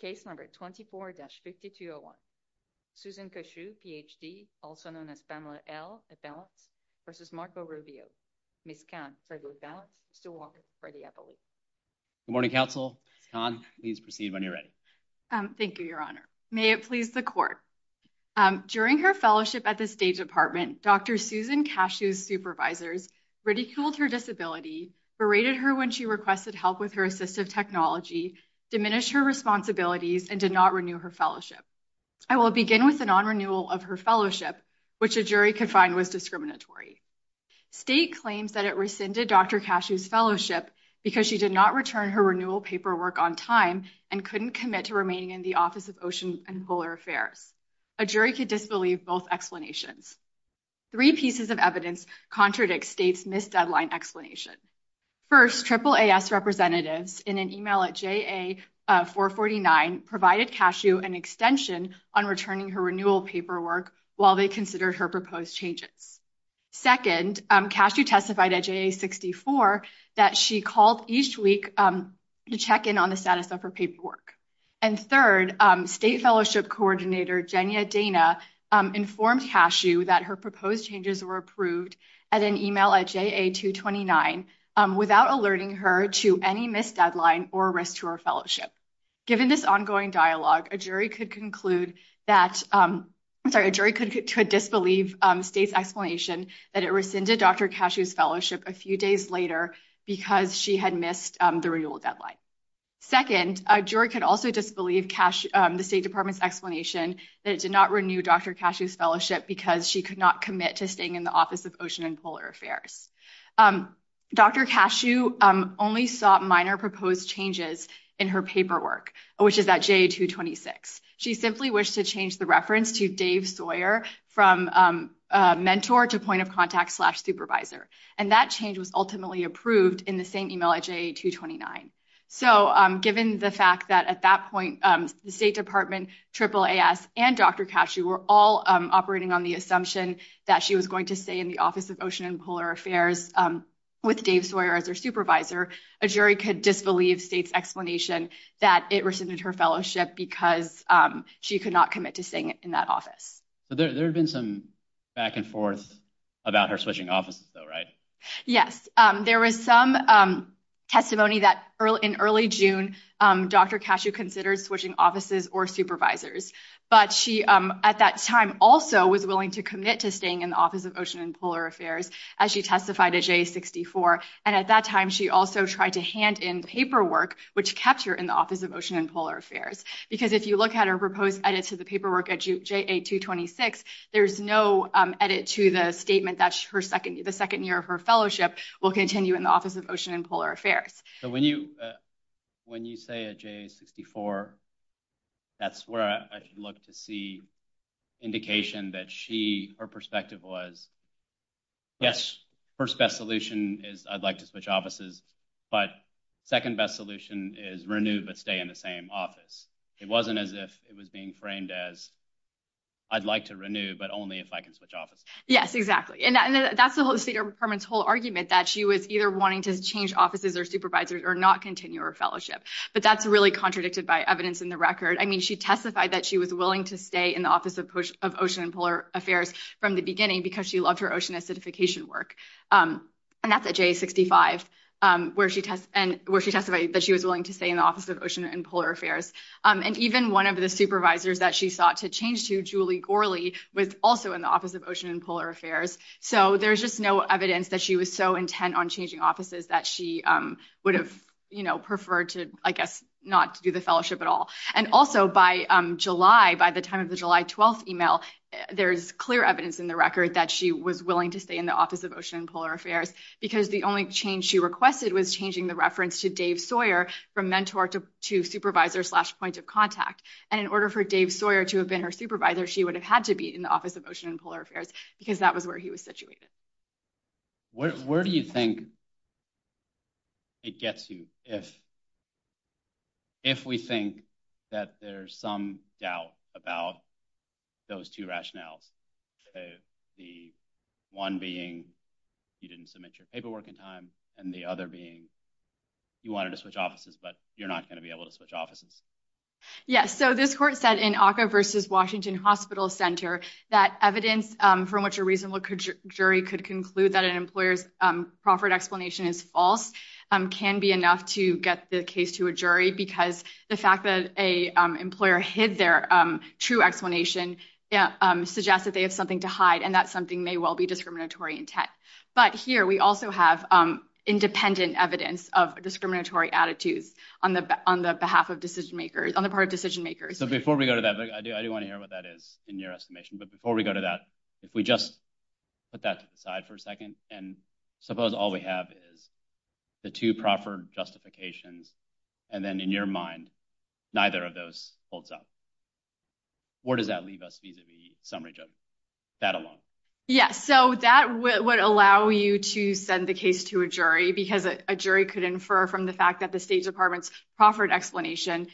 Case number 24-5201. Susan Qashu, Ph.D., also known as Pamela L. Eppalens, v. Marco Rubio. Ms. Khan, Frederick Eppalens, Mr. Walker, Freddie Eppalens. Good morning, counsel. Ms. Khan, please proceed when you're ready. Thank you, your honor. May it please the court. During her fellowship at the State Department, Dr. Susan Qashu's supervisors ridiculed her disability, berated her when she requested help with her assistive technology, diminished her responsibilities, and did not renew her fellowship. I will begin with the non-renewal of her fellowship, which a jury could find was discriminatory. State claims that it rescinded Dr. Qashu's fellowship because she did not return her renewal paperwork on time and couldn't commit to remaining in the Office of Ocean and Polar Affairs. A jury could disbelieve both explanations. Three pieces of evidence contradict State's missed deadline explanation. First, AAAS representatives in an email at JA449 provided Qashu an extension on returning her renewal paperwork while they considered her proposed changes. Second, Qashu testified at JA64 that she called each week to check in on the status of her paperwork. And third, State Fellowship Coordinator Jenya Dana informed Qashu that her proposed changes were approved at an email at JA229 without alerting her to any missed deadline or risk to her fellowship. Given this ongoing dialogue, a jury could conclude that, I'm sorry, a jury could disbelieve State's explanation that it rescinded Dr. Qashu's fellowship a few days later because she had missed the renewal deadline. Second, a jury could also disbelieve the State Department's explanation that it did not renew Dr. Qashu's fellowship because she could not commit to staying in the Office of Ocean and Polar Affairs. Dr. Qashu only sought minor proposed changes in her paperwork, which is at JA226. She simply wished to change the reference to Dave Sawyer from mentor to point of contact slash supervisor. And that change was ultimately approved in the same email at JA229. So given the fact that at that point the State Department, AAAS, and Dr. Qashu were all operating on the assumption that she was going to stay in the Office of Ocean and Polar Affairs with Dave Sawyer as her supervisor, a jury could disbelieve State's explanation that it rescinded her fellowship because she could not commit to staying in that office. So there had been some back and forth about her switching offices though, right? Yes, there was some testimony that in early June Dr. Qashu considered switching offices or supervisors. But she at that time also was willing to commit to staying in the Office of Ocean and Polar Affairs as she testified at JA64. And at that time she also tried to hand in paperwork which kept her in the Office of Ocean and Polar Affairs. Because if you look at her proposed edit to the paperwork at JA226, there's no edit to the statement that the second year of her fellowship will continue in the Office of Ocean and Polar Affairs. So when you say at JA64, that's where I look to see indication that her perspective was, yes, first best solution is I'd like to switch offices. But second best solution is renew but stay in the same office. It wasn't as if it was being framed as I'd like to renew but only if I can switch offices. Yes, exactly. And that's the State Department's whole argument that she was either wanting to change offices or supervisors or not continue her fellowship. But that's really contradicted by evidence in the record. I mean, she testified that she was willing to stay in the Office of Ocean and Polar Affairs from the beginning because she loved her ocean acidification work. And that's at JA65 where she testified that she was willing to stay in the Office of Ocean and Polar Affairs. And even one of the supervisors that she sought to change to, Julie Gorley, was also in the Office of Ocean and Polar Affairs. So there's just no evidence that she was so intent on changing offices that she would have preferred to, I guess, not to do the fellowship at all. And also by July, by the time of the July 12th email, there's clear evidence in the record that she was willing to stay in the Office of Ocean and Polar Affairs because the only change she requested was changing the reference to Dave Sawyer from mentor to supervisor slash point of contact. And in order for Dave Sawyer to have been her supervisor, she would have had to be in the Office of Ocean and Polar Affairs because that was where he was situated. Where do you think it gets you if we think that there's some doubt about those two rationales? The one being you didn't submit your paperwork in time and the other being you wanted to switch offices, but you're not going to be able to switch offices. Yes, so this court said in ACCA versus Washington Hospital Center that evidence from which a reasonable jury could conclude that an employer's proffered explanation is false can be enough to get the case to a jury because the fact that a employer hid their true explanation suggests that they have something to hide. And that's something may well be discriminatory intent. But here we also have independent evidence of discriminatory attitudes on the behalf of decision makers, on the part of decision makers. So before we go to that, I do want to hear what that is in your estimation. But before we go to that, if we just put that to the side for a second and suppose all we have is the two proffered justifications and then in your mind, neither of those holds up. Where does that leave us vis-a-vis summary judge? That alone. Yeah, so that would allow you to send the case to a jury because a jury could infer from the fact that the State Department's proffered explanation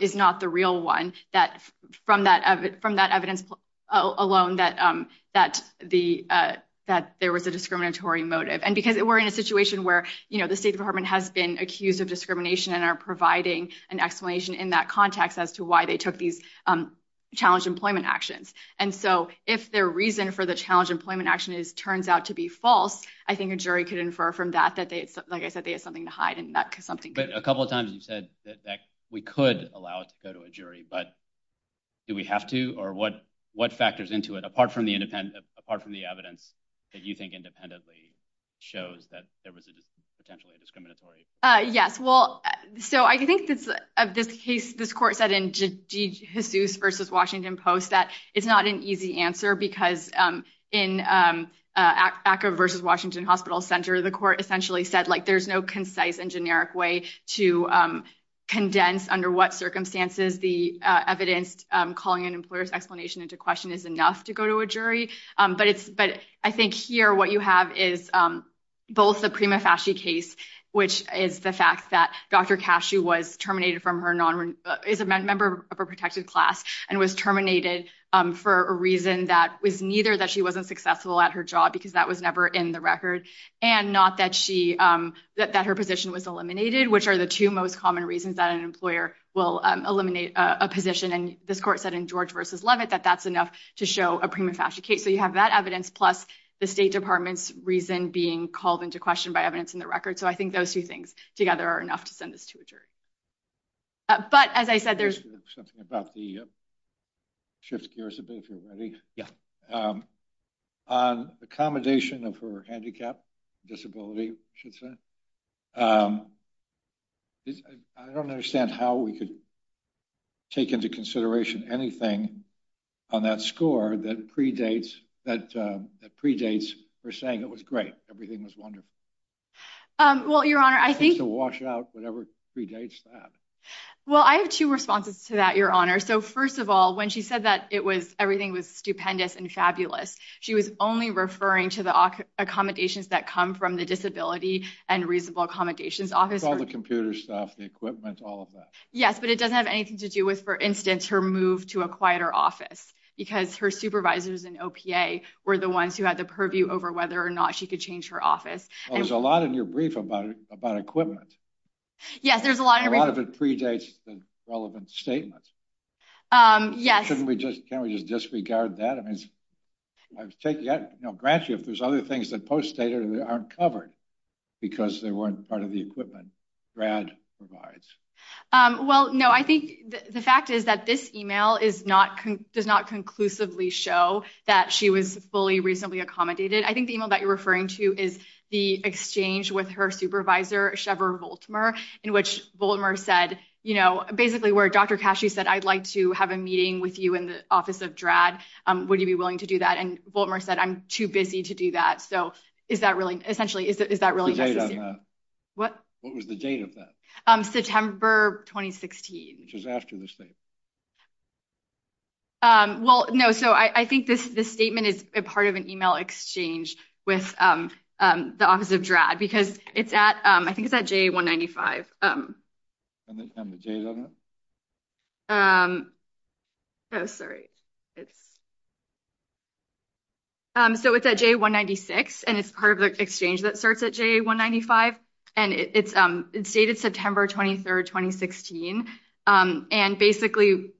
is not the real one that from that from that evidence alone that that the that there was a discriminatory motive. And because we're in a situation where the State Department has been accused of discrimination and are providing an explanation in that context as to why they took these challenge employment actions. And so if their reason for the challenge employment action is turns out to be false, I think a jury could infer from that that they, like I said, they had something to hide and that something. But a couple of times you said that we could allow it to go to a jury. But do we have to or what what factors into it apart from the independent, apart from the evidence that you think independently shows that there was a potentially discriminatory? Yes, well, so I think of this case, this court said in Jesus versus Washington Post that it's not an easy answer because in ACA versus Washington Hospital Center, the court essentially said, like, there's no concise and generic way to condense under what circumstances the evidenced calling an employer's explanation into question is enough to go to a jury. But it's but I think here what you have is both the prima facie case, which is the fact that Dr. Cashew was terminated from her is a member of a protected class and was terminated for a reason that was neither that she wasn't successful at her job because that was never in the record and not that she that that her position was eliminated, which are the two most common reasons that an employer will eliminate a position. And this court said in George versus Levitt that that's enough to show a prima facie case. So you have that evidence plus the State Department's reason being called into question by evidence in the record. So I think those two things together are enough to send this to a jury. But as I said, there's something about the shift gears a bit. Yeah, on accommodation of her handicap disability. I don't understand how we could take into consideration anything on that score that predates that predates for saying it was great. Everything was wonderful. Well, your honor, I think to wash out whatever predates that. Well, I have two responses to that, your honor. So first of all, when she said that it was everything was stupendous and fabulous. She was only referring to the accommodations that come from the disability and reasonable accommodations office, all the computer stuff, the equipment, all of that. Yes, but it doesn't have anything to do with, for instance, her move to a quieter office because her supervisors and OPA were the ones who had the purview over whether or not she could change her office. There's a lot in your brief about about equipment. Yes, there's a lot of it predates the relevant statements. Yes, and we just can't we just disregard that? I mean, I take that grant you if there's other things that poststater aren't covered because they weren't part of the equipment Brad provides. Well, no, I think the fact is that this email is not does not conclusively show that she was fully reasonably accommodated. I think the email that you're referring to is the exchange with her supervisor, Chevron Baltimore, in which Baltimore said, you know, basically where Dr. Cashew said, I'd like to have a meeting with you in the office of DRAD. Would you be willing to do that? And Baltimore said, I'm too busy to do that. So is that really essentially is that really what was the date of that September 2016, which is after this thing? Well, no, so I think this this statement is a part of an email exchange with the office of DRAD, because it's at I think it's at J. one ninety five. I'm sorry, it's so it's at J. one ninety six and it's part of the exchange that starts at J. one ninety five and it's it's dated September twenty third, twenty sixteen. And basically,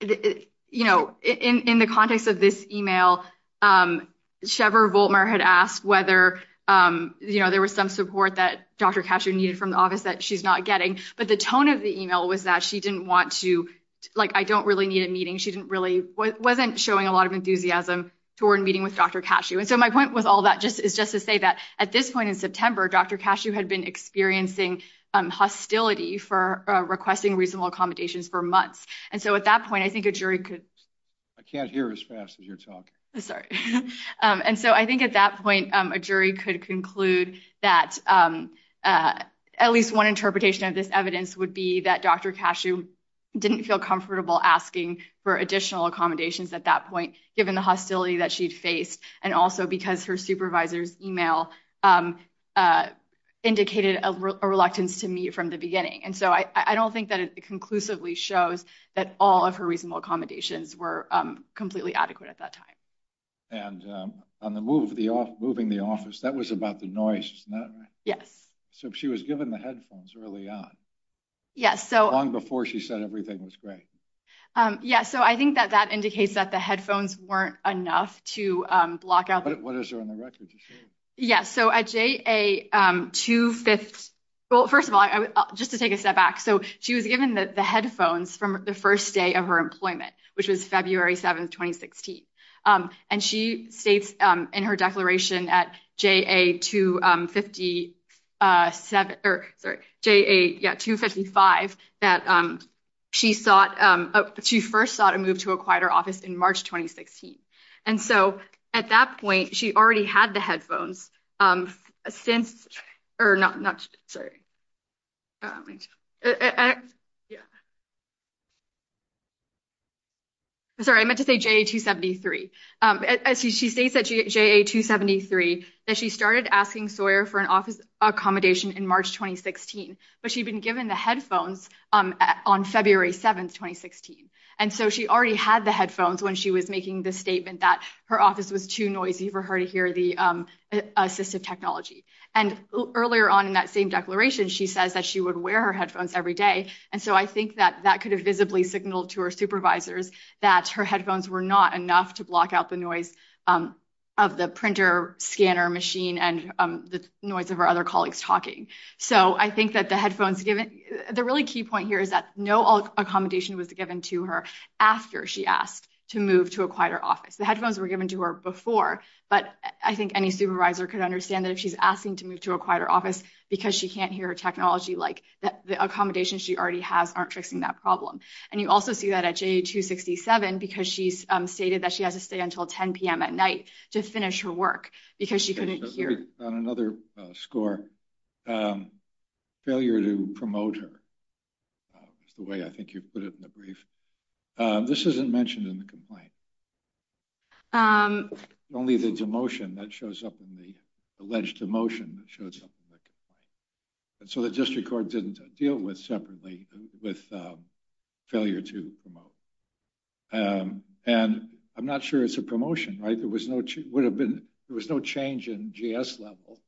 you know, in the context of this email, Chevron Baltimore had asked whether, you know, there was some support that Dr. Cashew needed from the office that she's not getting. But the tone of the email was that she didn't want to like, I don't really need a meeting. She didn't really wasn't showing a lot of enthusiasm toward meeting with Dr. Cashew. And so my point with all that just is just to say that at this point in September, Dr. Cashew had been experiencing hostility for requesting reasonable accommodations for months. And so at that point, I think a jury could. I can't hear as fast as you're talking. Sorry. And so I think at that point, a jury could conclude that at least one interpretation of this evidence would be that Dr. Cashew didn't feel comfortable asking for additional accommodations at that point, given the hostility that she'd faced. And also because her supervisor's email indicated a reluctance to meet from the beginning. And so I don't think that it conclusively shows that all of her reasonable accommodations were completely adequate at that time. And on the move, the moving the office, that was about the noise. Isn't that right? Yes. So she was given the headphones early on. Yes. So long before she said everything was great. Yeah. So I think that that indicates that the headphones weren't enough to block out. What is there on the record? Yes. So a J.A. two fifths. Well, first of all, just to take a step back. So she was given the headphones from the first day of her employment, which was February 7th, 2016. And she states in her declaration at J.A. two fifty seven or J.A. two fifty five that she sought she first sought to move to a quieter office in March 2016. And so at that point, she already had the headphones since or not. Not sorry. Yeah. Sorry, I meant to say J.A. two seventy three. She states that J.A. two seventy three that she started asking Sawyer for an office accommodation in March 2016, but she'd been given the headphones on February 7th, 2016. And so she already had the headphones when she was making the statement that her office was too noisy for her to hear the assistive technology. And earlier on in that same declaration, she says that she would wear her headphones every day. And so I think that that could have visibly signaled to her supervisors that her headphones were not enough to block out the noise of the printer scanner machine and the noise of her other colleagues talking. So I think that the headphones given the really key point here is that no accommodation was given to her after she asked to move to a quieter office. The headphones were given to her before. But I think any supervisor could understand that if she's asking to move to a quieter office because she can't hear technology like that, the accommodation she already has aren't fixing that problem. And you also see that at J.A. two sixty seven, because she's stated that she has to stay until 10 p.m. at night to finish her work because she couldn't hear on another score. Failure to promote her is the way I think you put it in the brief. This isn't mentioned in the complaint. I'm only the demotion that shows up in the alleged demotion that shows up. And so the district court didn't deal with separately with failure to promote. And I'm not sure it's a promotion, right? There was no it would have been there was no change in gas level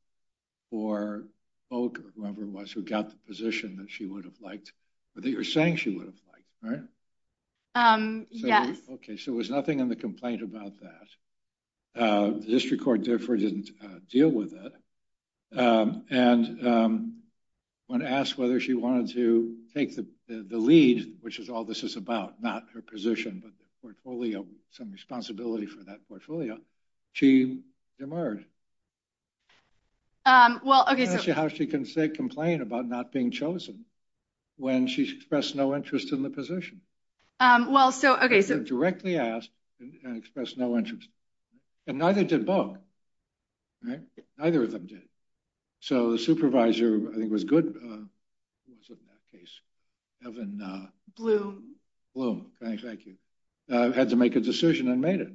or whoever was who got the position that she would have liked. But you're saying she would have liked. Um, yes. OK, so there was nothing in the complaint about that. The district court, therefore, didn't deal with it. And when asked whether she wanted to take the lead, which is all this is about, not her position, but the portfolio, some responsibility for that portfolio, she demurred. Well, OK, so how she can say complain about not being chosen when she's expressed no interest in the position? Well, so OK, so directly ask and express no interest. And neither did both. Neither of them did. So the supervisor, I think, was good. It wasn't that case. Evan Bloom, thank you, had to make a decision and made it.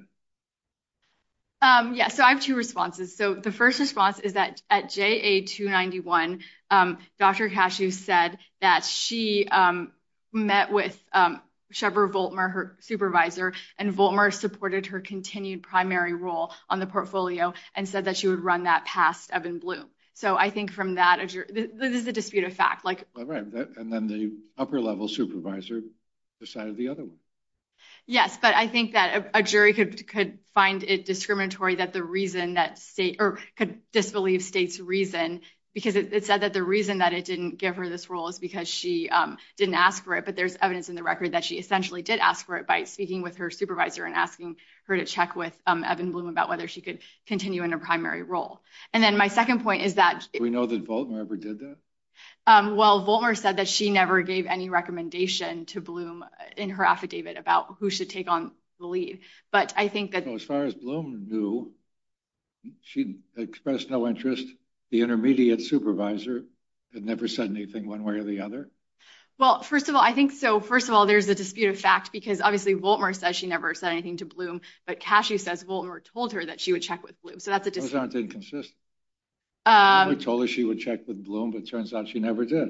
Yeah, so I have two responses. So the first response is that at JA 291, Dr. Cashew said that she met with Shepherd Voltmer, her supervisor, and Voltmer supported her continued primary role on the portfolio and said that she would run that past Evan Bloom. So I think from that, this is a dispute of fact. And then the upper level supervisor decided the other one. Yes, but I think that a jury could find it discriminatory that the reason that state or could disbelieve state's reason because it said that the reason that it didn't give her this role is because she didn't ask for it. But there's evidence in the record that she essentially did ask for it by speaking with her supervisor and asking her to check with Evan Bloom about whether she could continue in a primary role. And then my second point is that we know that Voltmer ever did that. Well, Voltmer said that she never gave any recommendation to Bloom in her affidavit about who should take on the lead. But I think that as far as Bloom knew, she expressed no interest. The intermediate supervisor had never said anything one way or the other. Well, first of all, I think so. First of all, there's a dispute of fact, because obviously, Voltmer says she never said anything to Bloom. But Cashew says Voltmer told her that she would check with Bloom. So that's a dispute. Those aren't inconsistent. She told her she would check with Bloom, but it turns out she never did.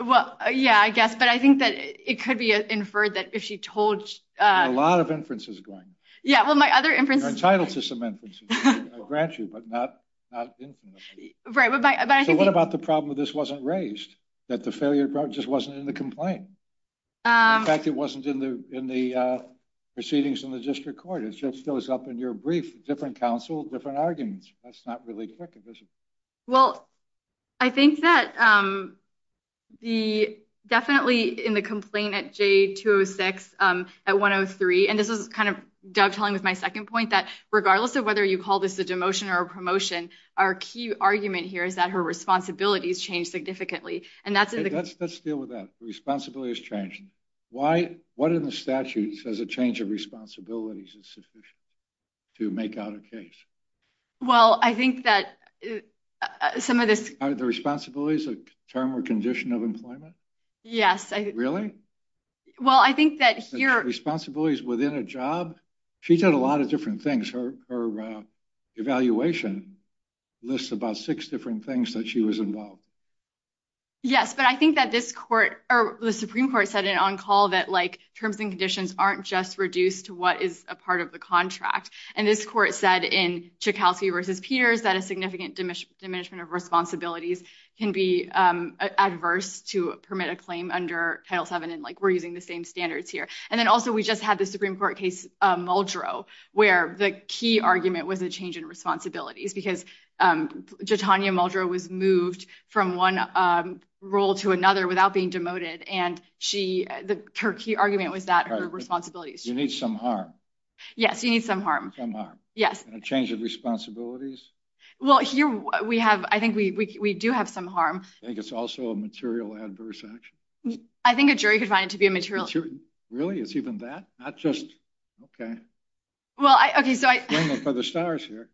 Well, yeah, I guess. But I think that it could be inferred that if she told. A lot of inferences going. Yeah, well, my other inferences. You're entitled to some inferences. I grant you, but not infinitely. Right, but I think. So what about the problem that this wasn't raised, that the failure just wasn't in the In fact, it wasn't in the proceedings in the district court. It just goes up in your brief, different counsel, different arguments. That's not really correct, is it? Well, I think that. The definitely in the complaint at J206 at 103, and this is kind of dovetailing with my second point that regardless of whether you call this a demotion or a promotion, our key argument here is that her responsibilities change significantly. And that's it. Let's deal with that. Responsibility has changed. Why? What in the statute says a change of responsibilities is sufficient to make out a case? Well, I think that some of this. Are the responsibilities a term or condition of employment? Yes. Really? Well, I think that here. Responsibilities within a job. She did a lot of different things. Her evaluation lists about six different things that she was involved. Yes, but I think that this court or the Supreme Court said it on call that like terms and conditions aren't just reduced to what is a part of the contract. And this court said in Chekovsky versus Peters that a significant diminishment of responsibilities can be adverse to permit a claim under Title seven. And like, we're using the same standards here. And then also, we just had the Supreme Court case, Muldrow, where the key argument was a change in responsibilities because Jitanya Muldrow was moved from one role to another without being demoted. And she the key argument was that her responsibilities. You need some harm. Yes, you need some harm. Yes. Change of responsibilities. Well, here we have. I think we do have some harm. I think it's also a material adverse action. I think a jury could find it to be a material. Really? It's even that not just. Well, OK. So I for the stars here.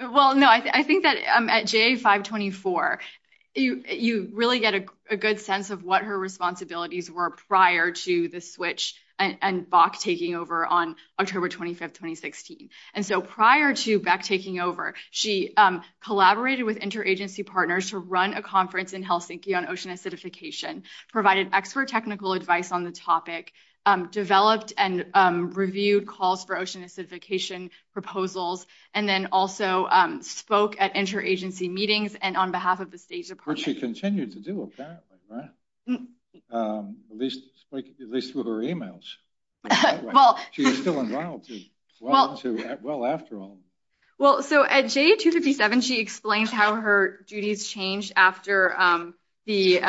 Well, no, I think that at J 524, you really get a good sense of what her responsibilities were prior to the switch and Bach taking over on October 25th, 2016. And so prior to back taking over, she collaborated with interagency partners to run a conference in Helsinki on ocean acidification, provided expert technical advice on the topic, developed and reviewed calls for ocean acidification proposals, and then also spoke at interagency meetings and on behalf of the State Department. She continued to do. At least at least with her emails. Well, she's still involved. Well, well, after all. Well, so at J 257, she explains how her duties changed after the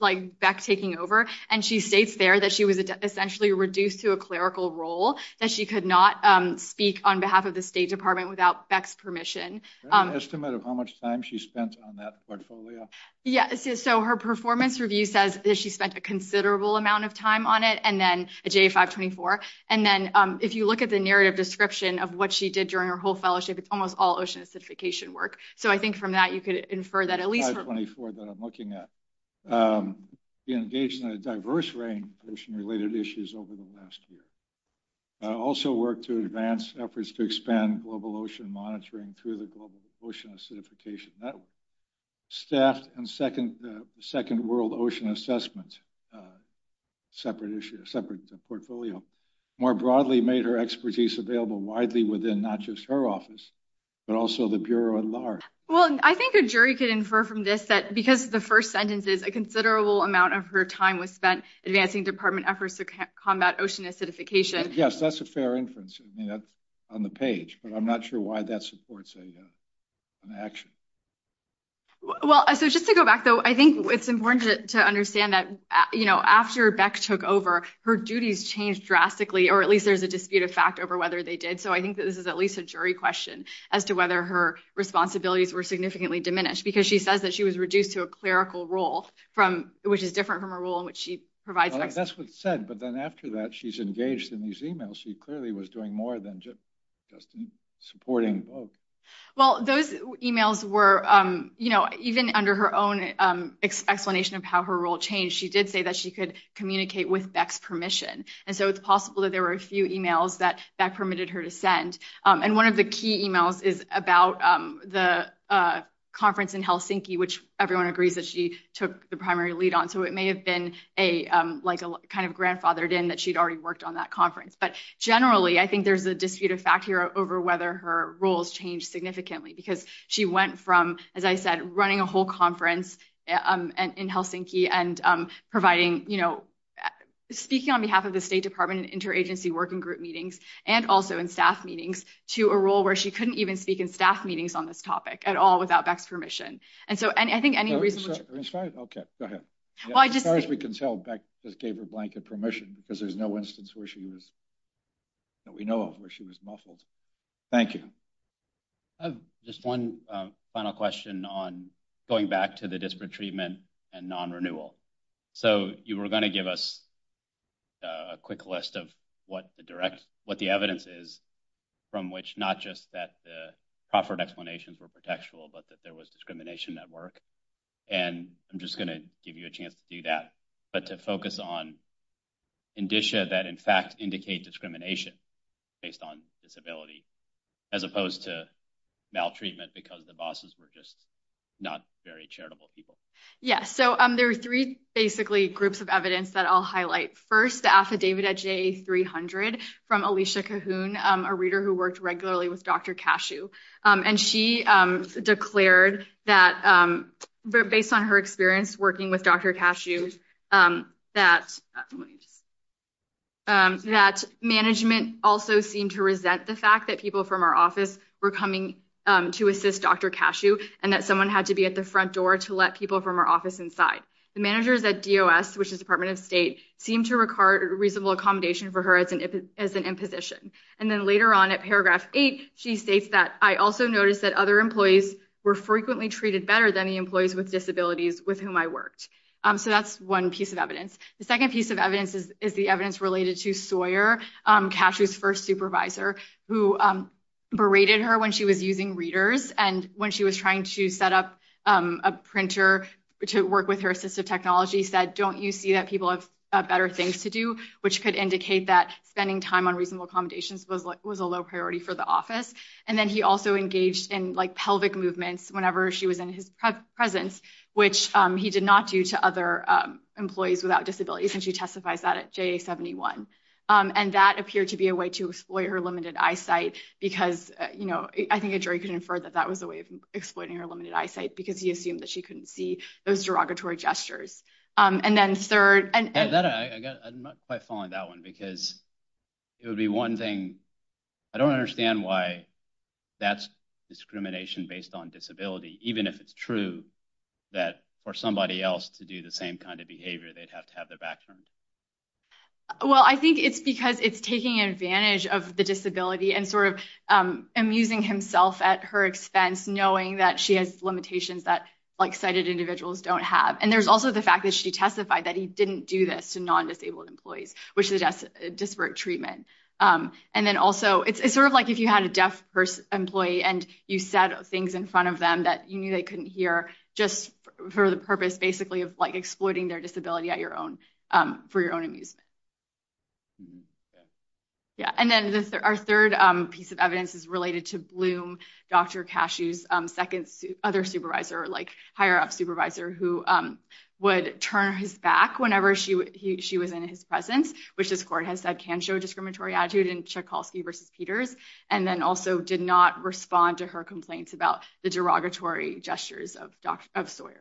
like back taking over. And she states there that she was essentially reduced to a clerical role, that she could not speak on behalf of the State Department without Beck's permission. An estimate of how much time she spent on that portfolio. Yeah, so her performance review says that she spent a considerable amount of time on it, and then at J 524. And then if you look at the narrative description of what she did during her whole fellowship, it's almost all ocean acidification work. So I think from that, you could infer that at least. 524 that I'm looking at. Engaged in a diverse range of ocean related issues over the last year. I also work to advance efforts to expand global ocean monitoring through the global ocean acidification network. Staffed and second world ocean assessment. Separate issue, separate portfolio. More broadly, made her expertise available widely within not just her office, but also the Bureau at large. Well, I think a jury could infer from this that because the first sentence is a considerable amount of her time was spent advancing department efforts to combat ocean acidification. Yes, that's a fair inference. I mean, that's on the page, but I'm not sure why that supports an action. Well, so just to go back, though, I think it's important to understand that after Beck took over, her duties changed drastically, or at least there's a dispute of fact over whether they did. So I think that this is at least a jury question as to whether her responsibilities were significantly diminished, because she says that she was reduced to a clerical role, which is different from a role in which she provides. That's what's said, but then after that, she's engaged in these emails. She clearly was doing more than just supporting. Well, those emails were, you know, even under her own explanation of how her role changed, she did say that she could communicate with Beck's permission. And so it's possible that there were a few emails that Beck permitted her to send. And one of the key emails is about the conference in Helsinki, which everyone agrees that she took the primary lead on. So it may have been like a kind of grandfathered in that she'd already worked on that conference. But generally, I think there's a dispute of fact here over whether her roles changed significantly, because she went from, as I said, running a whole conference in Helsinki and providing, you know, speaking on behalf of the State Department and interagency working group meetings, and also in staff meetings, to a role where she couldn't even speak in staff meetings on this topic at all without Beck's permission. And so I think any reason. Okay, go ahead. Well, as far as we can tell, Beck just gave her blanket permission, because there's no instance where she was, that we know of where she was muffled. Thank you. I have just one final question on going back to the disparate treatment and non-renewal. So you were going to give us a quick list of what the direct, what the evidence is, from which not just that the Crawford explanations were protectual, but that there was discrimination at work. And I'm just going to give you a chance to do that. But to focus on indicia that, in fact, indicate discrimination based on disability, as opposed to maltreatment, because the bosses were just not very charitable people. Yeah, so there are three, basically, groups of evidence that I'll highlight. First, the affidavit at JA300 from Alicia Cahoon, a reader who worked regularly with Dr. Cashew. And she declared that, based on her experience working with Dr. Cashew, that management also seemed to resent the fact that people from our office were coming to assist Dr. Cashew, and that someone had to be at the front door to let people from our office inside. The managers at DOS, which is Department of State, seemed to regard reasonable accommodation for her as an imposition. And then later on, at paragraph 8, she states that, I also noticed that other employees were frequently treated better than the employees with disabilities with whom I worked. So that's one piece of evidence. The second piece of evidence is the evidence related to Sawyer, Cashew's first supervisor, who berated her when she was using readers. And when she was trying to set up a printer to work with her assistive technology, said, don't you see that people have better things to do, which could indicate that spending time on reasonable accommodations was a low priority for the office. And then he also engaged in pelvic movements whenever she was in his presence, which he did not do to other employees without disabilities. And she testifies that at JA-71. And that appeared to be a way to exploit her limited eyesight, because I think a jury could infer that that was a way of exploiting her limited eyesight, because he assumed that she couldn't see those derogatory gestures. And then third, and- I'm not quite following that one, because it would be one thing. I don't understand why that's discrimination based on disability, even if it's true that for somebody else to do the same kind of behavior, they'd have to have their back turned. Well, I think it's because it's taking advantage of the disability and sort of amusing himself at her expense, knowing that she has limitations that sighted individuals don't have. There's also the fact that she testified that he didn't do this to non-disabled employees, which is a disparate treatment. And then also, it's sort of like if you had a deaf employee and you said things in front of them that you knew they couldn't hear, just for the purpose, basically, of exploiting their disability for your own amusement. And then our third piece of evidence is related to Bloom, Dr. Cashew's second other supervisor, higher-up supervisor, who would turn his back whenever she was in his presence, which this court has said can show discriminatory attitude in Tchaikovsky versus Peters, and then also did not respond to her complaints about the derogatory gestures of Sawyer.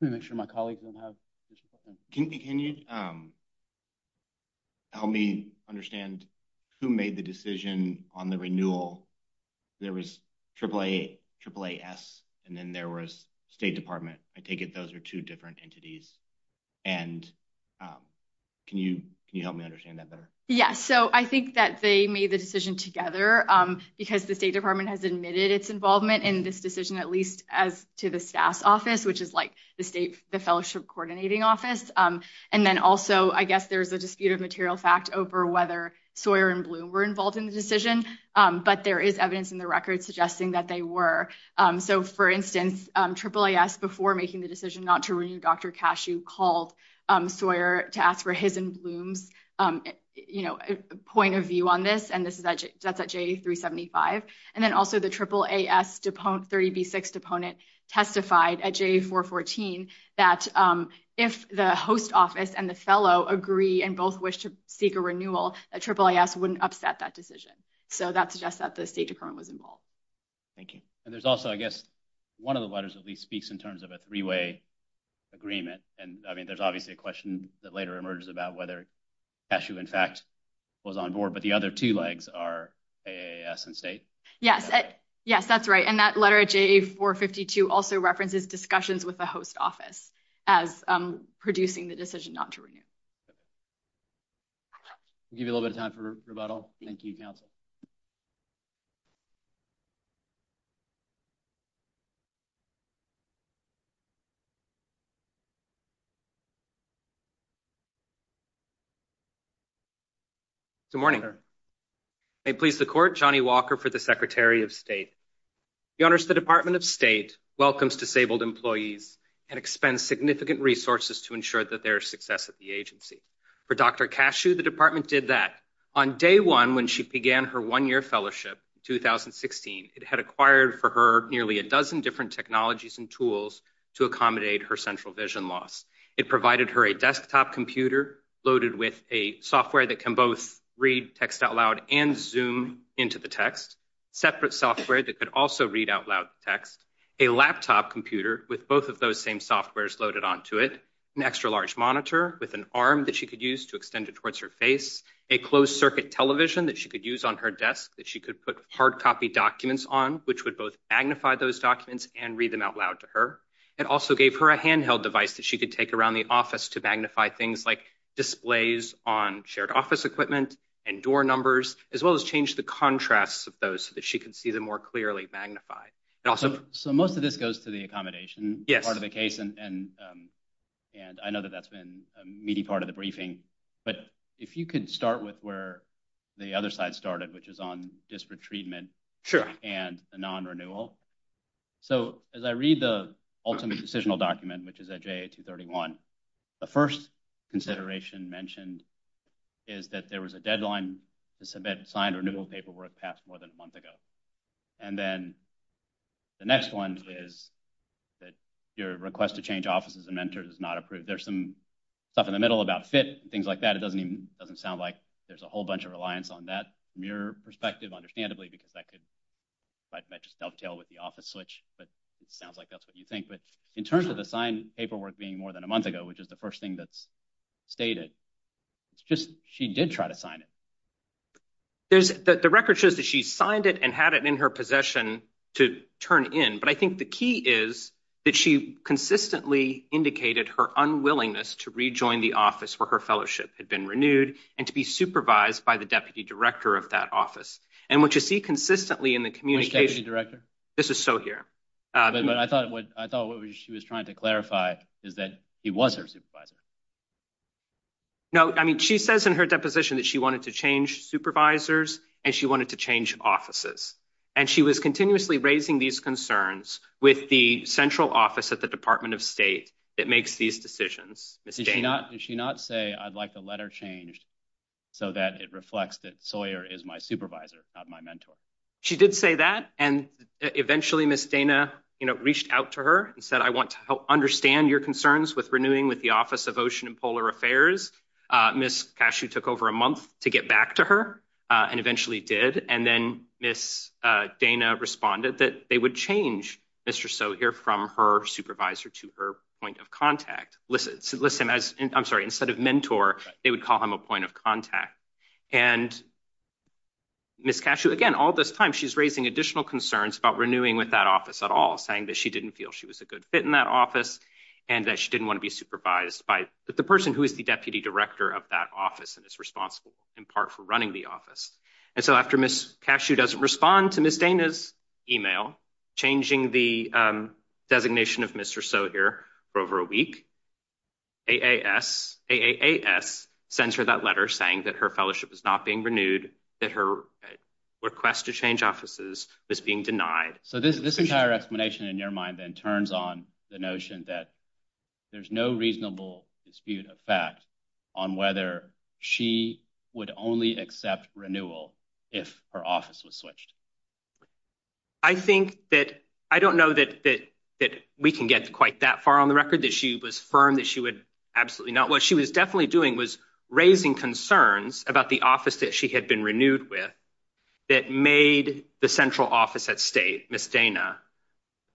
Let me make sure my colleagues don't have- Can you help me understand who made the decision on the renewal? There was AAAS, and then there was State Department. I take it those are two different entities. And can you help me understand that better? Yeah, so I think that they made the decision together because the State Department has admitted its involvement in this decision, at least as to the staff's office, which is like the state, the fellowship coordinating office. And then also, I guess there's a dispute of material fact over whether Sawyer and Bloom were involved in the decision. But there is evidence in the record suggesting that they were. So, for instance, AAAS, before making the decision not to renew Dr. Cashew, called Sawyer to ask for his and Bloom's point of view on this, and that's at JA-375. And then also, the AAAS 30B-6 deponent testified at JA-414 that if the host office and the fellow agree and both wish to seek a renewal, that AAAS wouldn't upset that decision. So that suggests that the State Department was involved. Thank you. And there's also, I guess, one of the letters at least speaks in terms of a three-way agreement. And, I mean, there's obviously a question that later emerges about whether Cashew, in fact, was on board. But the other two legs are AAAS and State. Yes, yes, that's right. And that letter at JA-452 also references discussions with the host office as producing the decision not to renew. We'll give you a little bit of time for rebuttal. Thank you, Counsel. Good morning. May it please the Court, Johnny Walker for the Secretary of State. Your Honors, the Department of State welcomes disabled employees and expends significant resources to ensure that there is success at the agency. For Dr. Cashew, the Department did that. On day one, when she began her one-year fellowship in 2016, it had acquired for her nearly a dozen different technologies and tools to accommodate her central vision loss. It provided her a desktop computer loaded with a software that can both read text out loud and zoom into the text, separate software that could also read out loud text, a laptop computer with both of those same softwares loaded onto it, an extra-large monitor with an arm that she could use to extend it towards her face, a closed-circuit television that she could use on her desk that she could put hard-copy documents on, which would both magnify those documents and read them out loud to her. It also gave her a handheld device that she could take around the office to magnify things like displays on shared office equipment and door numbers, as well as change the contrasts of those so that she could see them more clearly magnified. So most of this goes to the accommodation part of the case, and I know that that's been a meaty part of the briefing, but if you could start with where the other side started, which is on disparate treatment and the non-renewal. So as I read the ultimate decisional document, which is at JA-231, the first consideration mentioned is that there was a deadline to submit signed renewal paperwork passed more than a month ago. And then the next one is that your request to change offices and mentors is not approved. There's some stuff in the middle about fit and things like that. It doesn't sound like there's a whole bunch of reliance on that from your perspective, understandably, because that could just dovetail with the office switch. But it sounds like that's what you think. But in terms of the signed paperwork being more than a month ago, which is the first thing that's stated, it's just she did try to sign it. The record shows that she signed it and had it in her possession to turn in, but I think the key is that she consistently indicated her unwillingness to rejoin the office where her fellowship had been renewed and to be supervised by the deputy director of that And what you see consistently in the communication— This is Sohir. But I thought what she was trying to clarify is that he was her supervisor. No, I mean, she says in her deposition that she wanted to change supervisors and she wanted to change offices. And she was continuously raising these concerns with the central office at the Department of State that makes these decisions. Did she not say, I'd like the letter changed so that it reflects that Sohir is my supervisor, not my mentor? She did say that. And eventually, Ms. Dana reached out to her and said, I want to understand your concerns with renewing with the Office of Ocean and Polar Affairs. Ms. Cashew took over a month to get back to her and eventually did. And then Ms. Dana responded that they would change Mr. Sohir from her supervisor to her point of contact. I'm sorry, instead of mentor, they would call him a point of contact. And Ms. Cashew, again, all this time, she's raising additional concerns about renewing with that office at all, saying that she didn't feel she was a good fit in that office and that she didn't want to be supervised by the person who is the deputy director of that office and is responsible in part for running the office. And so after Ms. Cashew doesn't respond to Ms. Dana's email, changing the designation of Mr. Sohir for over a week, AAS sends her that letter saying that her fellowship is not being renewed, that her request to change offices was being denied. So this entire explanation in your mind then turns on the notion that there's no reasonable dispute of fact on whether she would only accept renewal if her office was switched. I think that I don't know that we can get quite that far on the record, that she was firm that she would absolutely not. What she was definitely doing was raising concerns about the office that she had been renewed with that made the central office at state, Ms. Dana,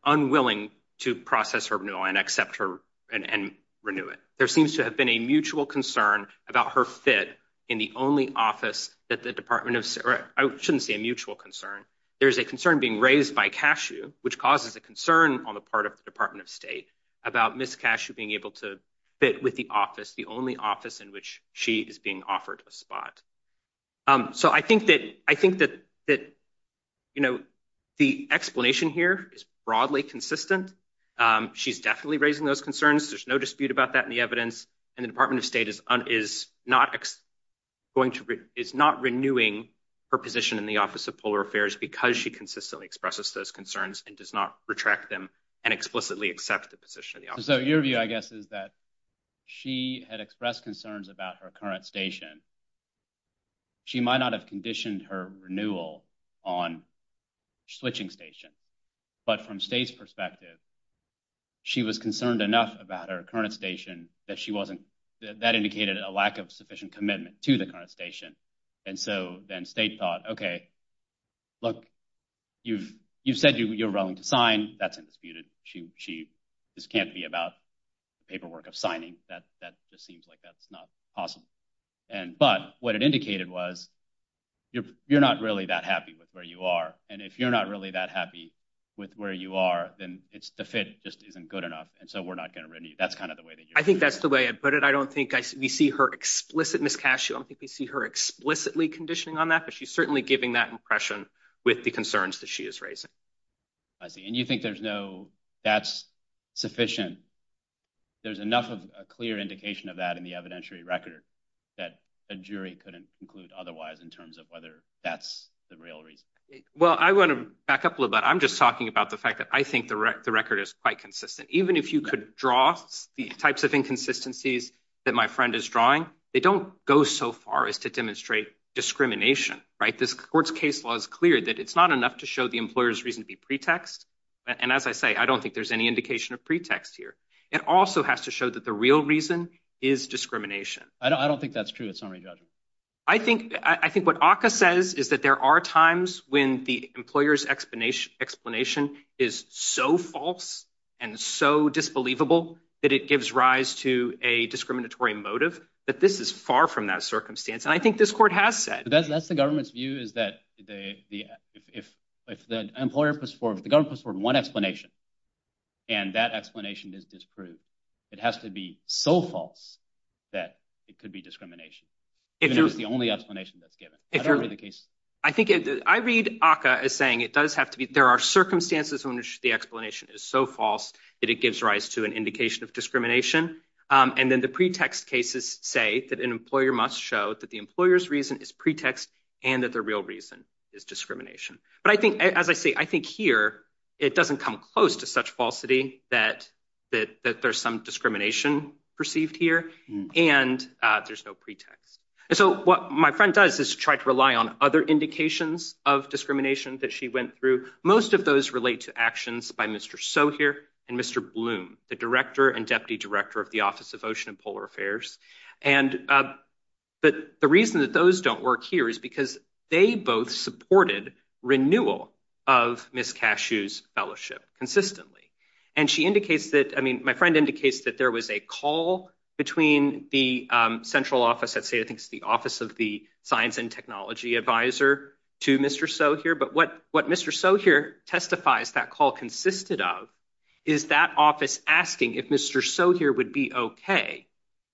unwilling to process her renewal and accept her and renew it. There seems to have been a mutual concern about her fit in the only office that the Department of, I shouldn't say a mutual concern. There's a concern being raised by Cashew, which causes a concern on the part of the Department of State about Ms. Cashew being able to fit with the office, the only office in which she is being offered a spot. So I think that, you know, the explanation here is broadly consistent. She's definitely raising those concerns. There's no dispute about that in the evidence. And the Department of State is not going to, is not renewing her position in the Office of Polar Affairs because she consistently expresses those concerns and does not retract them and explicitly accept the position of the office. So your view, I guess, is that she had expressed concerns about her current station. She might not have conditioned her renewal on switching station, but from state's perspective, she was concerned enough about her current station that she wasn't, that indicated a lack of sufficient commitment to the current station. And so then state thought, OK, look, you've said you're willing to sign. That's undisputed. This can't be about paperwork of signing. That just seems like that's not possible. But what it indicated was you're not really that happy with where you are. And if you're not really that happy with where you are, then it's the fit just isn't good enough. And so we're not going to renew. That's kind of the way that you. I think that's the way I put it. I don't think we see her explicit. Ms. Cascio, I don't think we see her explicitly conditioning on that, but she's certainly giving that impression with the concerns that she is raising. I see. And you think there's no, that's sufficient. There's enough of a clear indication of that in the evidentiary record that a jury couldn't conclude otherwise in terms of whether that's the real reason. Well, I want to back up a little bit. I'm just talking about the fact that I think the record is quite consistent, even if you could draw the types of inconsistencies that my friend is drawing, they don't go so far as to demonstrate discrimination, right? This court's case law is clear that it's not enough to show the employer's reason to be pretext. And as I say, I don't think there's any indication of pretext here. It also has to show that the real reason is discrimination. I don't think that's true. It's not a judgment. I think, I think what Aka says is that there are times when the employer's explanation explanation is so false and so disbelievable that it gives rise to a discriminatory motive, that this is far from that circumstance. And I think this court has said that's the government's view is that the, if, if, if the employer puts forth the government for one explanation and that explanation is disproved, it has to be so false that it could be discrimination. If there's the only explanation that's given, if you're in the case, I think I read Aka as saying it does have to be, there are circumstances when the explanation is so false that it gives rise to an indication of discrimination. And then the pretext cases say that an employer must show that the employer's reason is pretext and that the real reason is discrimination. But I think, as I say, I think here, it doesn't come close to such falsity that, that, that So what my friend does is try to rely on other indications of discrimination that she went through. Most of those relate to actions by Mr. So here and Mr. Bloom, the director and deputy director of the office of ocean and polar affairs. And, but the reason that those don't work here is because they both supported renewal of Ms. Cashew's fellowship consistently. And she indicates that, I mean, my friend indicates that there was a call between the central office that say, I think it's the office of the science and technology advisor to Mr. So here, but what, what Mr. So here testifies that call consisted of is that office asking if Mr. So here would be okay.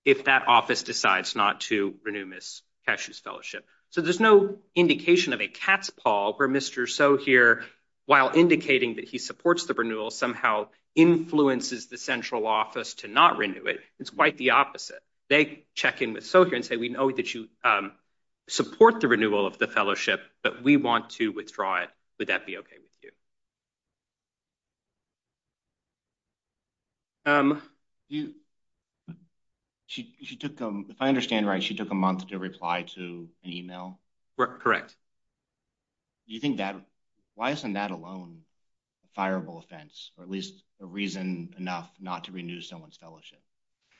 If that office decides not to renew Ms. Cashew's fellowship. So there's no indication of a cat's paw where Mr. So here, while indicating that he supports the renewal somehow influences the central office to not renew it. It's quite the opposite. They check in with So here and say, we know that you support the renewal of the fellowship, but we want to withdraw it. Would that be okay with you? Um, you, she, she took them. If I understand, right. She took a month to reply to an email, correct. Do you think that why isn't that alone? A fireable offense, or at least a reason enough not to renew someone's fellowship.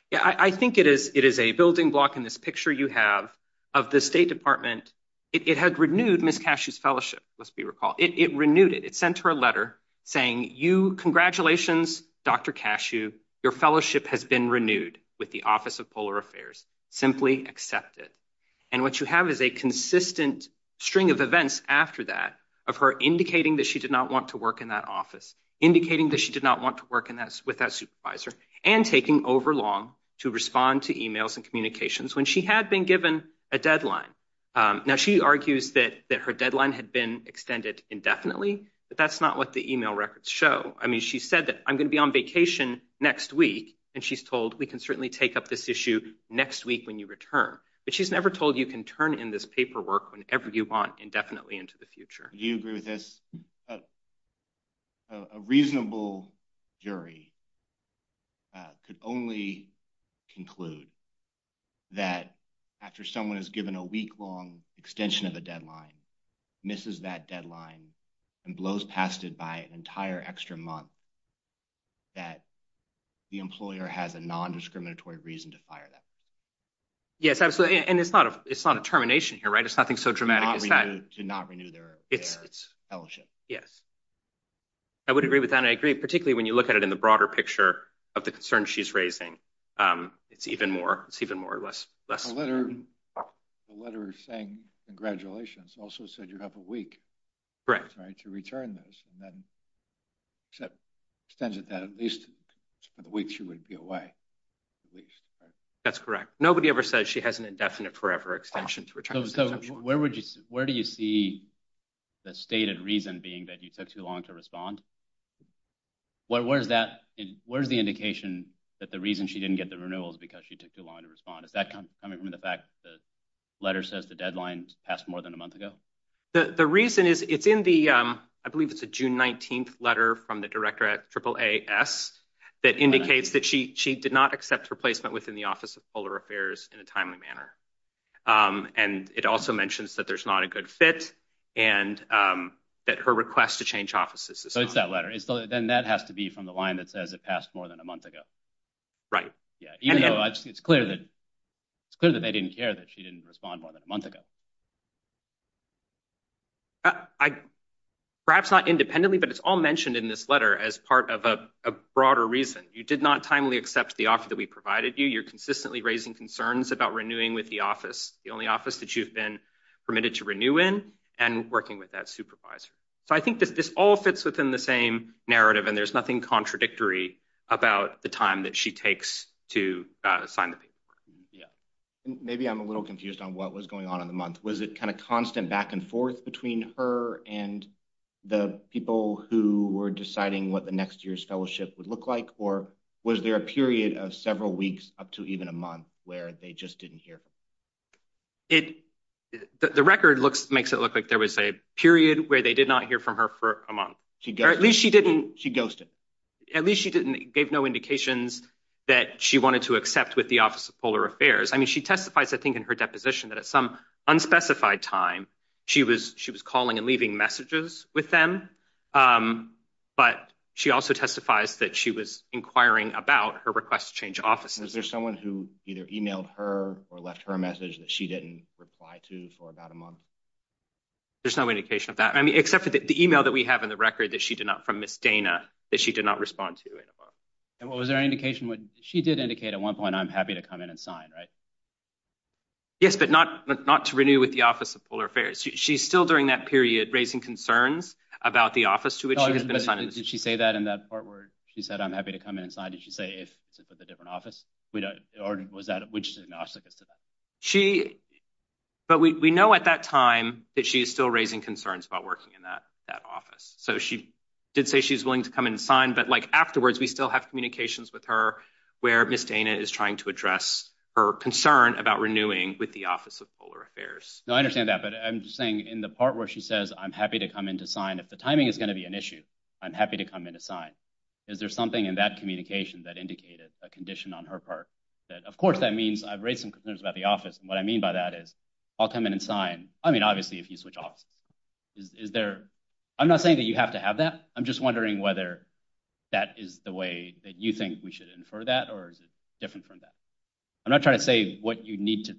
Yeah, I think it is. It is a building block in this picture. You have of the state department. It had renewed Ms. Cashew's fellowship. Let's be recalled. It, it renewed it. It sent her a letter saying you congratulations, Dr. Cashew, your fellowship has been renewed with the office of polar affairs, simply accept it. And what you have is a consistent string of events after that of her indicating that she did not want to work in that office indicating that she did not want to work in that with that supervisor and taking over long to respond to emails and communications when she had been given a deadline. Now, she argues that that her deadline had been extended indefinitely, but that's not what the email records show. I mean, she said that I'm going to be on vacation next week. And she's told we can certainly take up this issue next week when you return, but she's never told you can turn in this paperwork whenever you want indefinitely into the future. Do you agree with this? A reasonable jury could only conclude that after someone is given a week-long extension of a deadline, misses that deadline and blows past it by an entire extra month, that the employer has a non-discriminatory reason to fire them. Yes, absolutely. And it's not a, it's not a termination here, right? It's nothing so dramatic. Do not renew their fellowship. Yes, I would agree with that. I agree, particularly when you look at it in the broader picture of the concern she's raising. It's even more, it's even more or less. The letter saying congratulations also said you have a week to return this. And that extends it that at least for the week she would be away. That's correct. Nobody ever says she has an indefinite forever extension. So where would you, where do you see the stated reason being that you took too long to respond? What, where's that, where's the indication that the reason she didn't get the renewal is because she took too long to respond? Is that coming from the fact that the letter says the deadline passed more than a month ago? The, the reason is it's in the, I believe it's a June 19th letter from the director at AAAS that indicates that she, she did not accept replacement within the office of polar affairs in a timely manner. Um, and it also mentions that there's not a good fit and, um, that her request to change offices. So it's that letter. It's the, then that has to be from the line that says it passed more than a month ago. Right. Yeah. Even though it's clear that it's clear that they didn't care that she didn't respond more than a month ago. I perhaps not independently, but it's all mentioned in this letter as part of a broader reason. You did not timely accept the offer that we provided you. You're consistently raising concerns about renewing with the office. The only office that you've been permitted to renew in and working with that supervisor. So I think that this all fits within the same narrative and there's nothing contradictory about the time that she takes to sign the paper. Yeah, maybe I'm a little confused on what was going on in the month. Was it kind of constant back and forth between her and the people who were deciding what the next year's fellowship would look like? Or was there a period of several weeks up to even a month where they just didn't hear? It, the record looks, makes it look like there was a period where they did not hear from her for a month. She, at least she didn't, she ghosted at least she didn't gave no indications that she wanted to accept with the office of polar affairs. I mean, she testifies, I think in her deposition that at some unspecified time she was, she was calling and leaving messages with them. Um, but she also testifies that she was inquiring about her request to change offices. Is there someone who either emailed her or left her a message that she didn't reply to for about a month? There's no indication of that. I mean, except for the email that we have in the record that she did not from Miss Dana that she did not respond to in a month. And was there any indication when she did indicate at one point, I'm happy to come in and sign, right? Yes, but not, not to renew with the office of polar affairs. She's still during that period, raising concerns about the office to which she has been assigned. Did she say that in that part where she said, I'm happy to come in and sign? Did she say, if it's with a different office, we don't, or was that, which is an obstacle to that? She, but we, we know at that time that she is still raising concerns about working in that, that office. So she did say she's willing to come in and sign, but like afterwards, we still have communications with her where Miss Dana is trying to address her concern about renewing with the office of polar affairs. No, I understand that. But I'm just saying in the part where she says, I'm happy to come in to sign, if the timing is going to be an issue, I'm happy to come in and sign. Is there something in that communication that indicated a condition on her part that of course that means I've raised some concerns about the office. And what I mean by that is I'll come in and sign. I mean, obviously if you switch offices, is there, I'm not saying that you have to have that. I'm just wondering whether that is the way that you think we should infer that, or is it different from that? I'm not trying to say what you need to,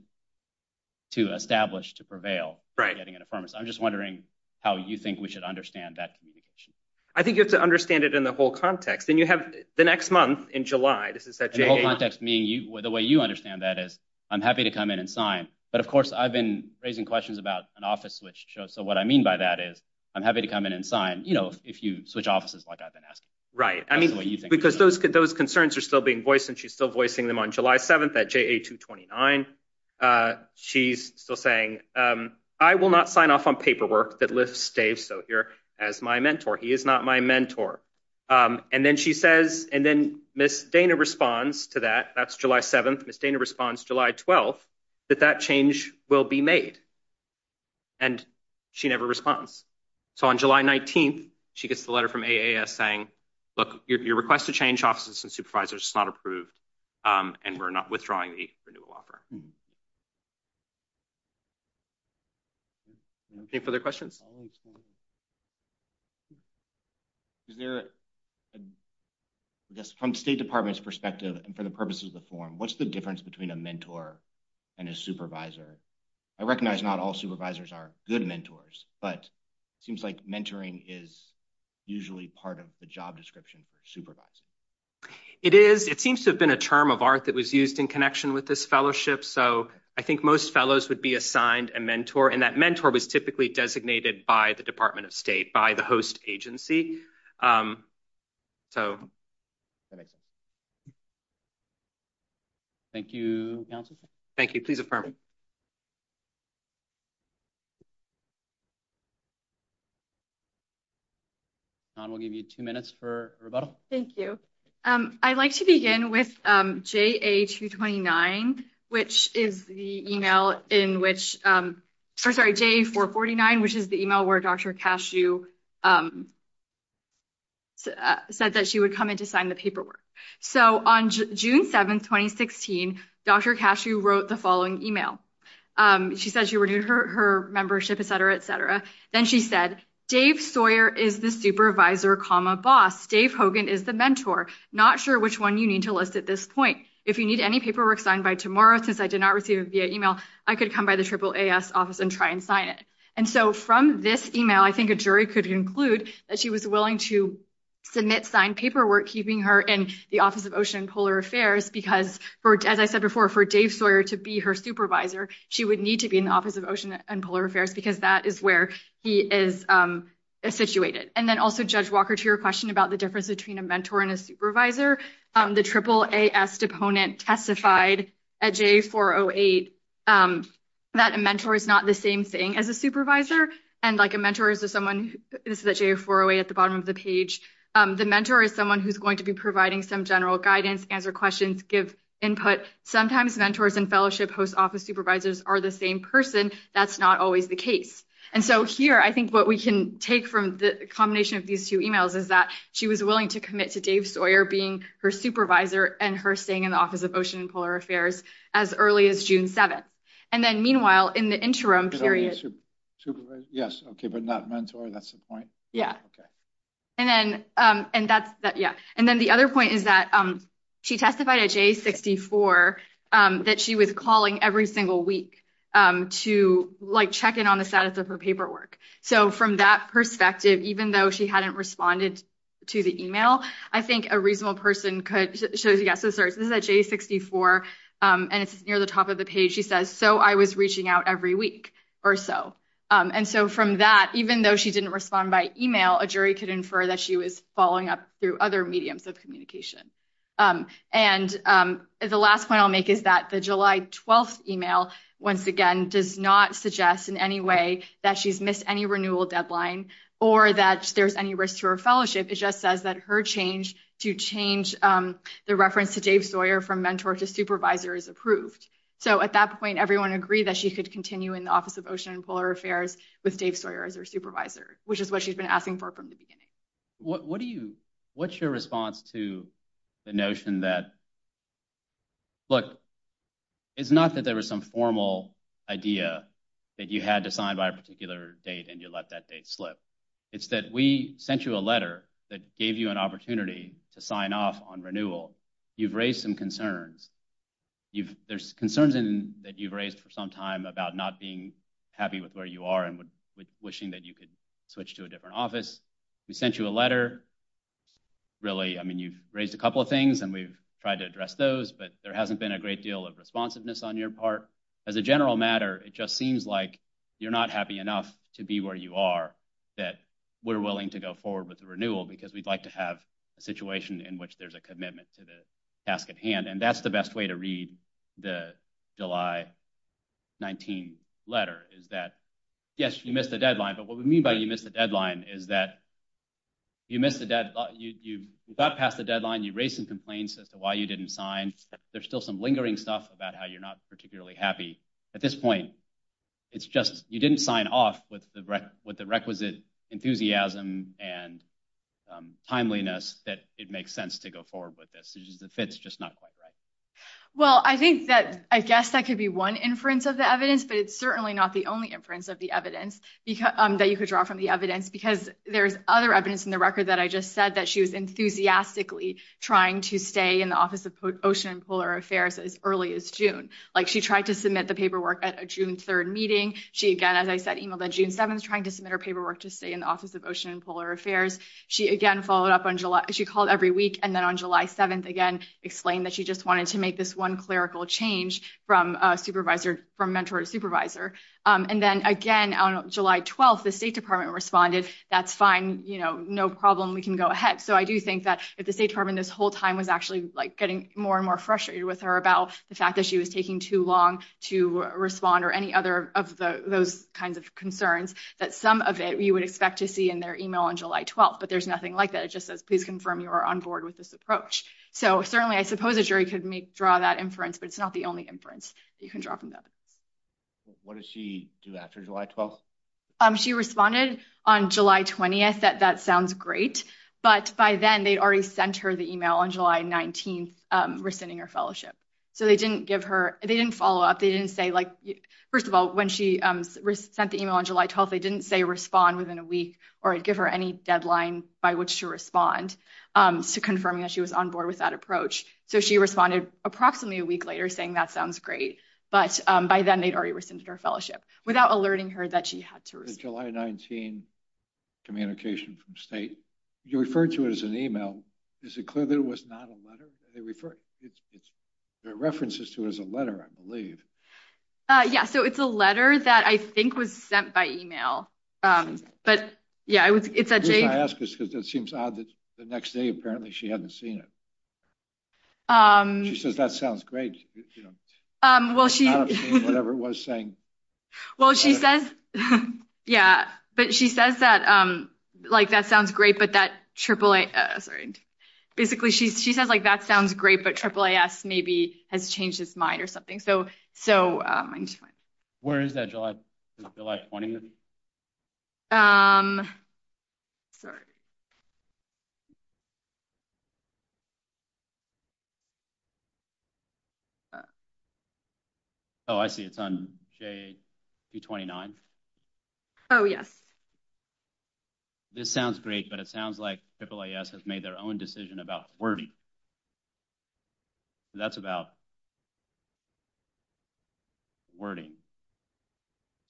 to establish to prevail, getting an affirmative. I'm just wondering how you think we should understand that communication. I think you have to understand it in the whole context. And you have the next month in July, this is that whole context, meaning you, the way you understand that is I'm happy to come in and sign. But of course, I've been raising questions about an office switch. So what I mean by that is I'm happy to come in and sign, you know, if you switch offices, like I've been asking. Right. I mean, because those, those concerns are still being voiced and she's still voicing them on July 7th at JA 229. She's still saying, I will not sign off on paperwork that lifts Dave Sohere as my mentor. He is not my mentor. And then she says, and then Ms. Dana responds to that. That's July 7th. Ms. Dana responds July 12th, that that change will be made. And she never responds. So on July 19th, she gets the letter from AAS saying, look, your request to change offices and supervisors is not approved. And we're not withdrawing the renewal offer. Any further questions? Is there, I guess, from the State Department's perspective and for the purposes of the forum, what's the difference between a mentor and a supervisor? I recognize not all supervisors are good mentors, but it seems like mentoring is usually part of the job description for a supervisor. It is. It seems to have been a term of art that was used in connection with this fellowship. So I think most fellows would be assigned a mentor and that mentor was typically designated by the Department of State, by the host agency. Thank you, counsel. Thank you. Please affirm. We'll give you two minutes for rebuttal. Thank you. I'd like to begin with JA-449, which is the email where Dr. Cashew said that she would come in to sign the paperwork. So on June 7th, 2016, Dr. Cashew wrote the following email. She said she renewed her membership, et cetera, et cetera. Then she said, Dave Sawyer is the supervisor, comma, boss. Dave Hogan is the mentor. Not sure which one you need to list at this point. If you need any paperwork signed by tomorrow, since I did not receive it via email, I could come by the AAAS office and try and sign it. And so from this email, I think a jury could conclude that she was willing to submit signed paperwork, keeping her in the Office of Ocean and Polar Affairs because, as I said before, for Dave Sawyer to be her supervisor, she would need to be in the Office of Ocean and Polar Affairs because that is where he is situated. And then also, Judge Walker, to your question about the difference between a mentor and a supervisor, the AAAS deponent testified at JA-408 that a mentor is not the same thing as a supervisor. And like a mentor is someone who is at JA-408 at the bottom of the page. The mentor is someone who's going to be providing some general guidance, answer questions, give input. Sometimes mentors and fellowship host office supervisors are the same person. That's not always the case. And so here, I think what we can take from the combination of these two emails is that she was willing to commit to Dave Sawyer being her supervisor and her staying in the Office of Ocean and Polar Affairs as early as June 7th. And then meanwhile, in the interim period... Yes, but not mentor. That's the point. Yeah. And then the other point is that she testified at JA-64 that she was calling every single week to check in on the status of her paperwork. So from that perspective, even though she hadn't responded to the email, I think a reasonable person could... So yes, this is at JA-64, and it's near the top of the page. She says, so I was reaching out every week or so. And so from that, even though she didn't respond by email, a jury could infer that she was following up through other mediums of communication. And the last point I'll make is that the July 12th email, once again, does not suggest in any way that she's missed any renewal deadline or that there's any risk to her It just says that her change to change the reference to Dave Sawyer from mentor to supervisor is approved. So at that point, everyone agreed that she could continue in the Office of Ocean and Polar Affairs with Dave Sawyer as her supervisor, which is what she's been asking for from the beginning. What's your response to the notion that, look, it's not that there was some formal idea that you had to sign by a particular date and you let that date slip. It's that we sent you a letter that gave you an opportunity to sign off on renewal. You've raised some concerns. There's concerns that you've raised for some time about not being happy with where you are and wishing that you could switch to a different office. We sent you a letter. Really, I mean, you've raised a couple of things and we've tried to address those, but there hasn't been a great deal of responsiveness on your part. As a general matter, it just seems like you're not happy enough to be where you are that we're willing to go forward with the renewal because we'd like to have a situation in which there's a commitment to the task at hand. And that's the best way to read the July 19 letter is that, yes, you missed the deadline. But what we mean by you missed the deadline is that you missed the deadline, you got past the deadline, you raised some complaints as to why you didn't sign. There's still some lingering stuff about how you're not particularly happy. At this point, it's just you didn't sign off with the requisite enthusiasm and timeliness that it makes sense to go forward with this. The fit's just not quite right. Well, I think that, I guess that could be one inference of the evidence, but it's not the only inference of the evidence that you could draw from the evidence because there's other evidence in the record that I just said that she was enthusiastically trying to stay in the Office of Ocean and Polar Affairs as early as June. She tried to submit the paperwork at a June 3rd meeting. She again, as I said, emailed on June 7th, trying to submit her paperwork to stay in the Office of Ocean and Polar Affairs. She again, followed up on July. She called every week and then on July 7th, again, explained that she just wanted to make this one clerical change from mentor to supervisor. And then again, on July 12th, the State Department responded, that's fine. No problem. We can go ahead. So I do think that if the State Department this whole time was actually getting more and more frustrated with her about the fact that she was taking too long to respond or any other of those kinds of concerns, that some of it you would expect to see in their email on July 12th. But there's nothing like that. It just says, please confirm you are on board with this approach. So certainly, I suppose a jury could draw that inference, but it's not the only inference you can draw from that. What did she do after July 12th? She responded on July 20th. That sounds great. But by then, they'd already sent her the email on July 19th, rescinding her fellowship. So they didn't give her, they didn't follow up. They didn't say like, first of all, when she sent the email on July 12th, they didn't say respond within a week or give her any deadline by which to respond to confirming that she was on board with that approach. So she responded approximately a week later, saying that sounds great. But by then, they'd already rescinded her fellowship without alerting her that she had to respond. July 19th, communication from State. You referred to it as an email. Is it clear that it was not a letter? There are references to it as a letter, I believe. Yeah. So it's a letter that I think was sent by email. But yeah, it's at J. It seems odd that the next day, apparently, she hadn't seen it. She says, that sounds great. Well, she whatever it was saying. Well, she says, yeah, but she says that, like, that sounds great. But that AAA, basically, she says, like, that sounds great. But AAAS maybe has changed his mind or something. So, so where is that? Is July 20th? Sorry. Oh, I see. It's on J. June 29th. Oh, yes. This sounds great. But it sounds like AAAS has made their own decision about wording. That's about wording.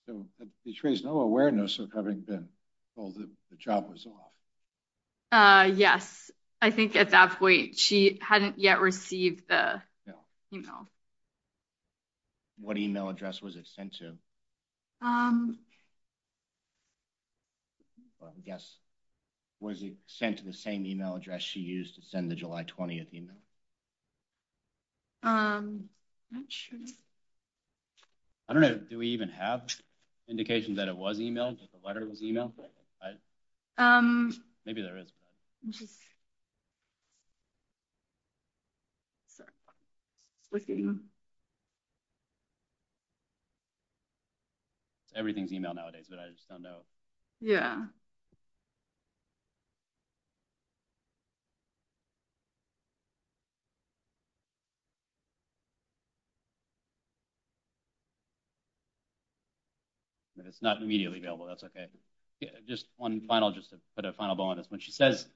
So it betrays no awareness of having been told that the job was off. Yes, I think at that point, she hadn't yet received the email. What email address was it sent to? Yes. Was it sent to the same email address she used to send the July 20th email? I'm not sure. I don't know. Do we even have indications that it was emailed? The letter was emailed? Maybe there is. Everything's emailed nowadays, but I just don't know. Yeah. But it's not immediately available. That's okay. Just one final, just to put a final ball on this one. She says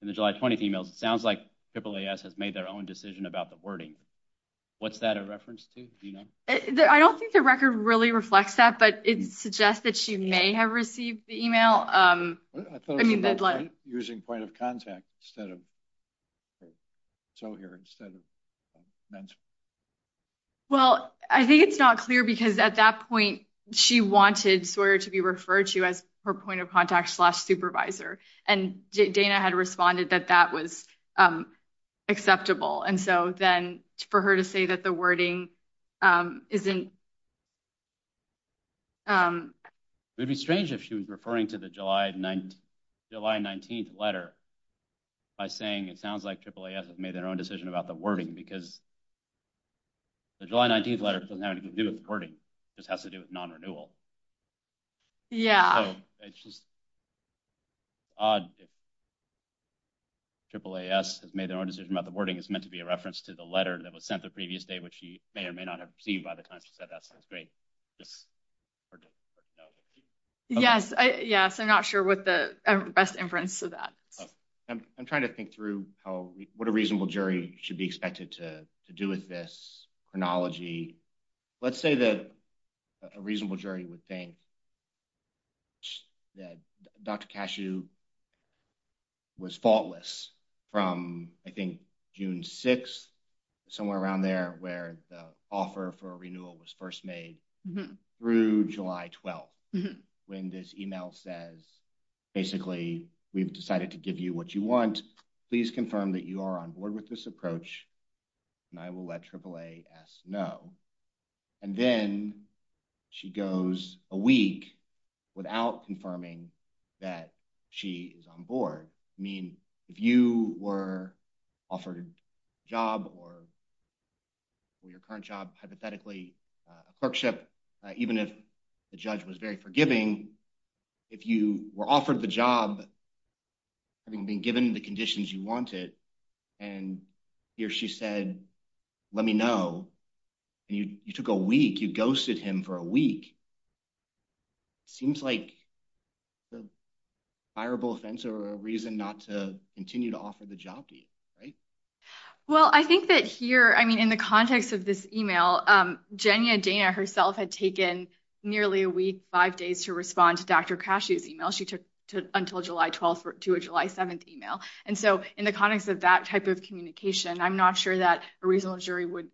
in the July 20th emails, it sounds like AAAS has made their own decision about the wording. What's that a reference to? Do you know? I don't think the record really reflects that, but it suggests that she may have received the email. I thought it was using point of contact instead of, so here, instead of men's. Well, I think it's not clear because at that point, she wanted Sawyer to be referred to as her point of contact slash supervisor. And Dana had responded that that was acceptable. And so then for her to say that the wording isn't. It would be strange if she was referring to the July 19th letter by saying, it sounds like AAAS has made their own decision about the wording because the July 19th letter doesn't have anything to do with the wording. It just has to do with non-renewal. Yeah. So it's just odd if AAAS has made their own decision about the wording. It's meant to be a reference to the letter that was sent the previous day, which she may or may not have received by the time she said that. So that's great. Yes. Yes. I'm not sure what the best inference to that. I'm trying to think through what a reasonable jury should be expected to do with this chronology. Let's say that a reasonable jury would think that Dr. Cashew was faultless from, I think, June 6th, somewhere around there where the offer for a renewal was first made through July 12th when this email says, basically, we've decided to give you what you want. Please confirm that you are on board with this approach, and I will let AAAS know. And then she goes a week without confirming that she is on board. I mean, if you were offered a job or your current job, hypothetically, a clerkship, even if the judge was very forgiving, if you were offered the job having been given the conditions you wanted, and he or she said, let me know, and you took a week, you ghosted him for a week, it seems like a desirable offense or a reason not to continue to offer the job to you, right? Well, I think that here, I mean, in the context of this email, Jenny and Dana herself had taken nearly a week, five days to respond to Dr. Cashew's email. She took until July 12th to a July 7th email. And so in the context of that type of communication, I'm not sure that a reasonable jury would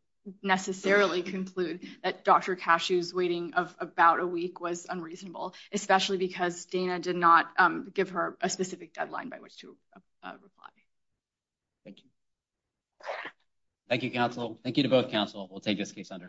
necessarily conclude that Dr. Cashew's waiting of about a week was unreasonable, especially because Dana did not give her a specific deadline by which to reply. Thank you. Thank you, counsel. Thank you to both counsel. We'll take this case under submission.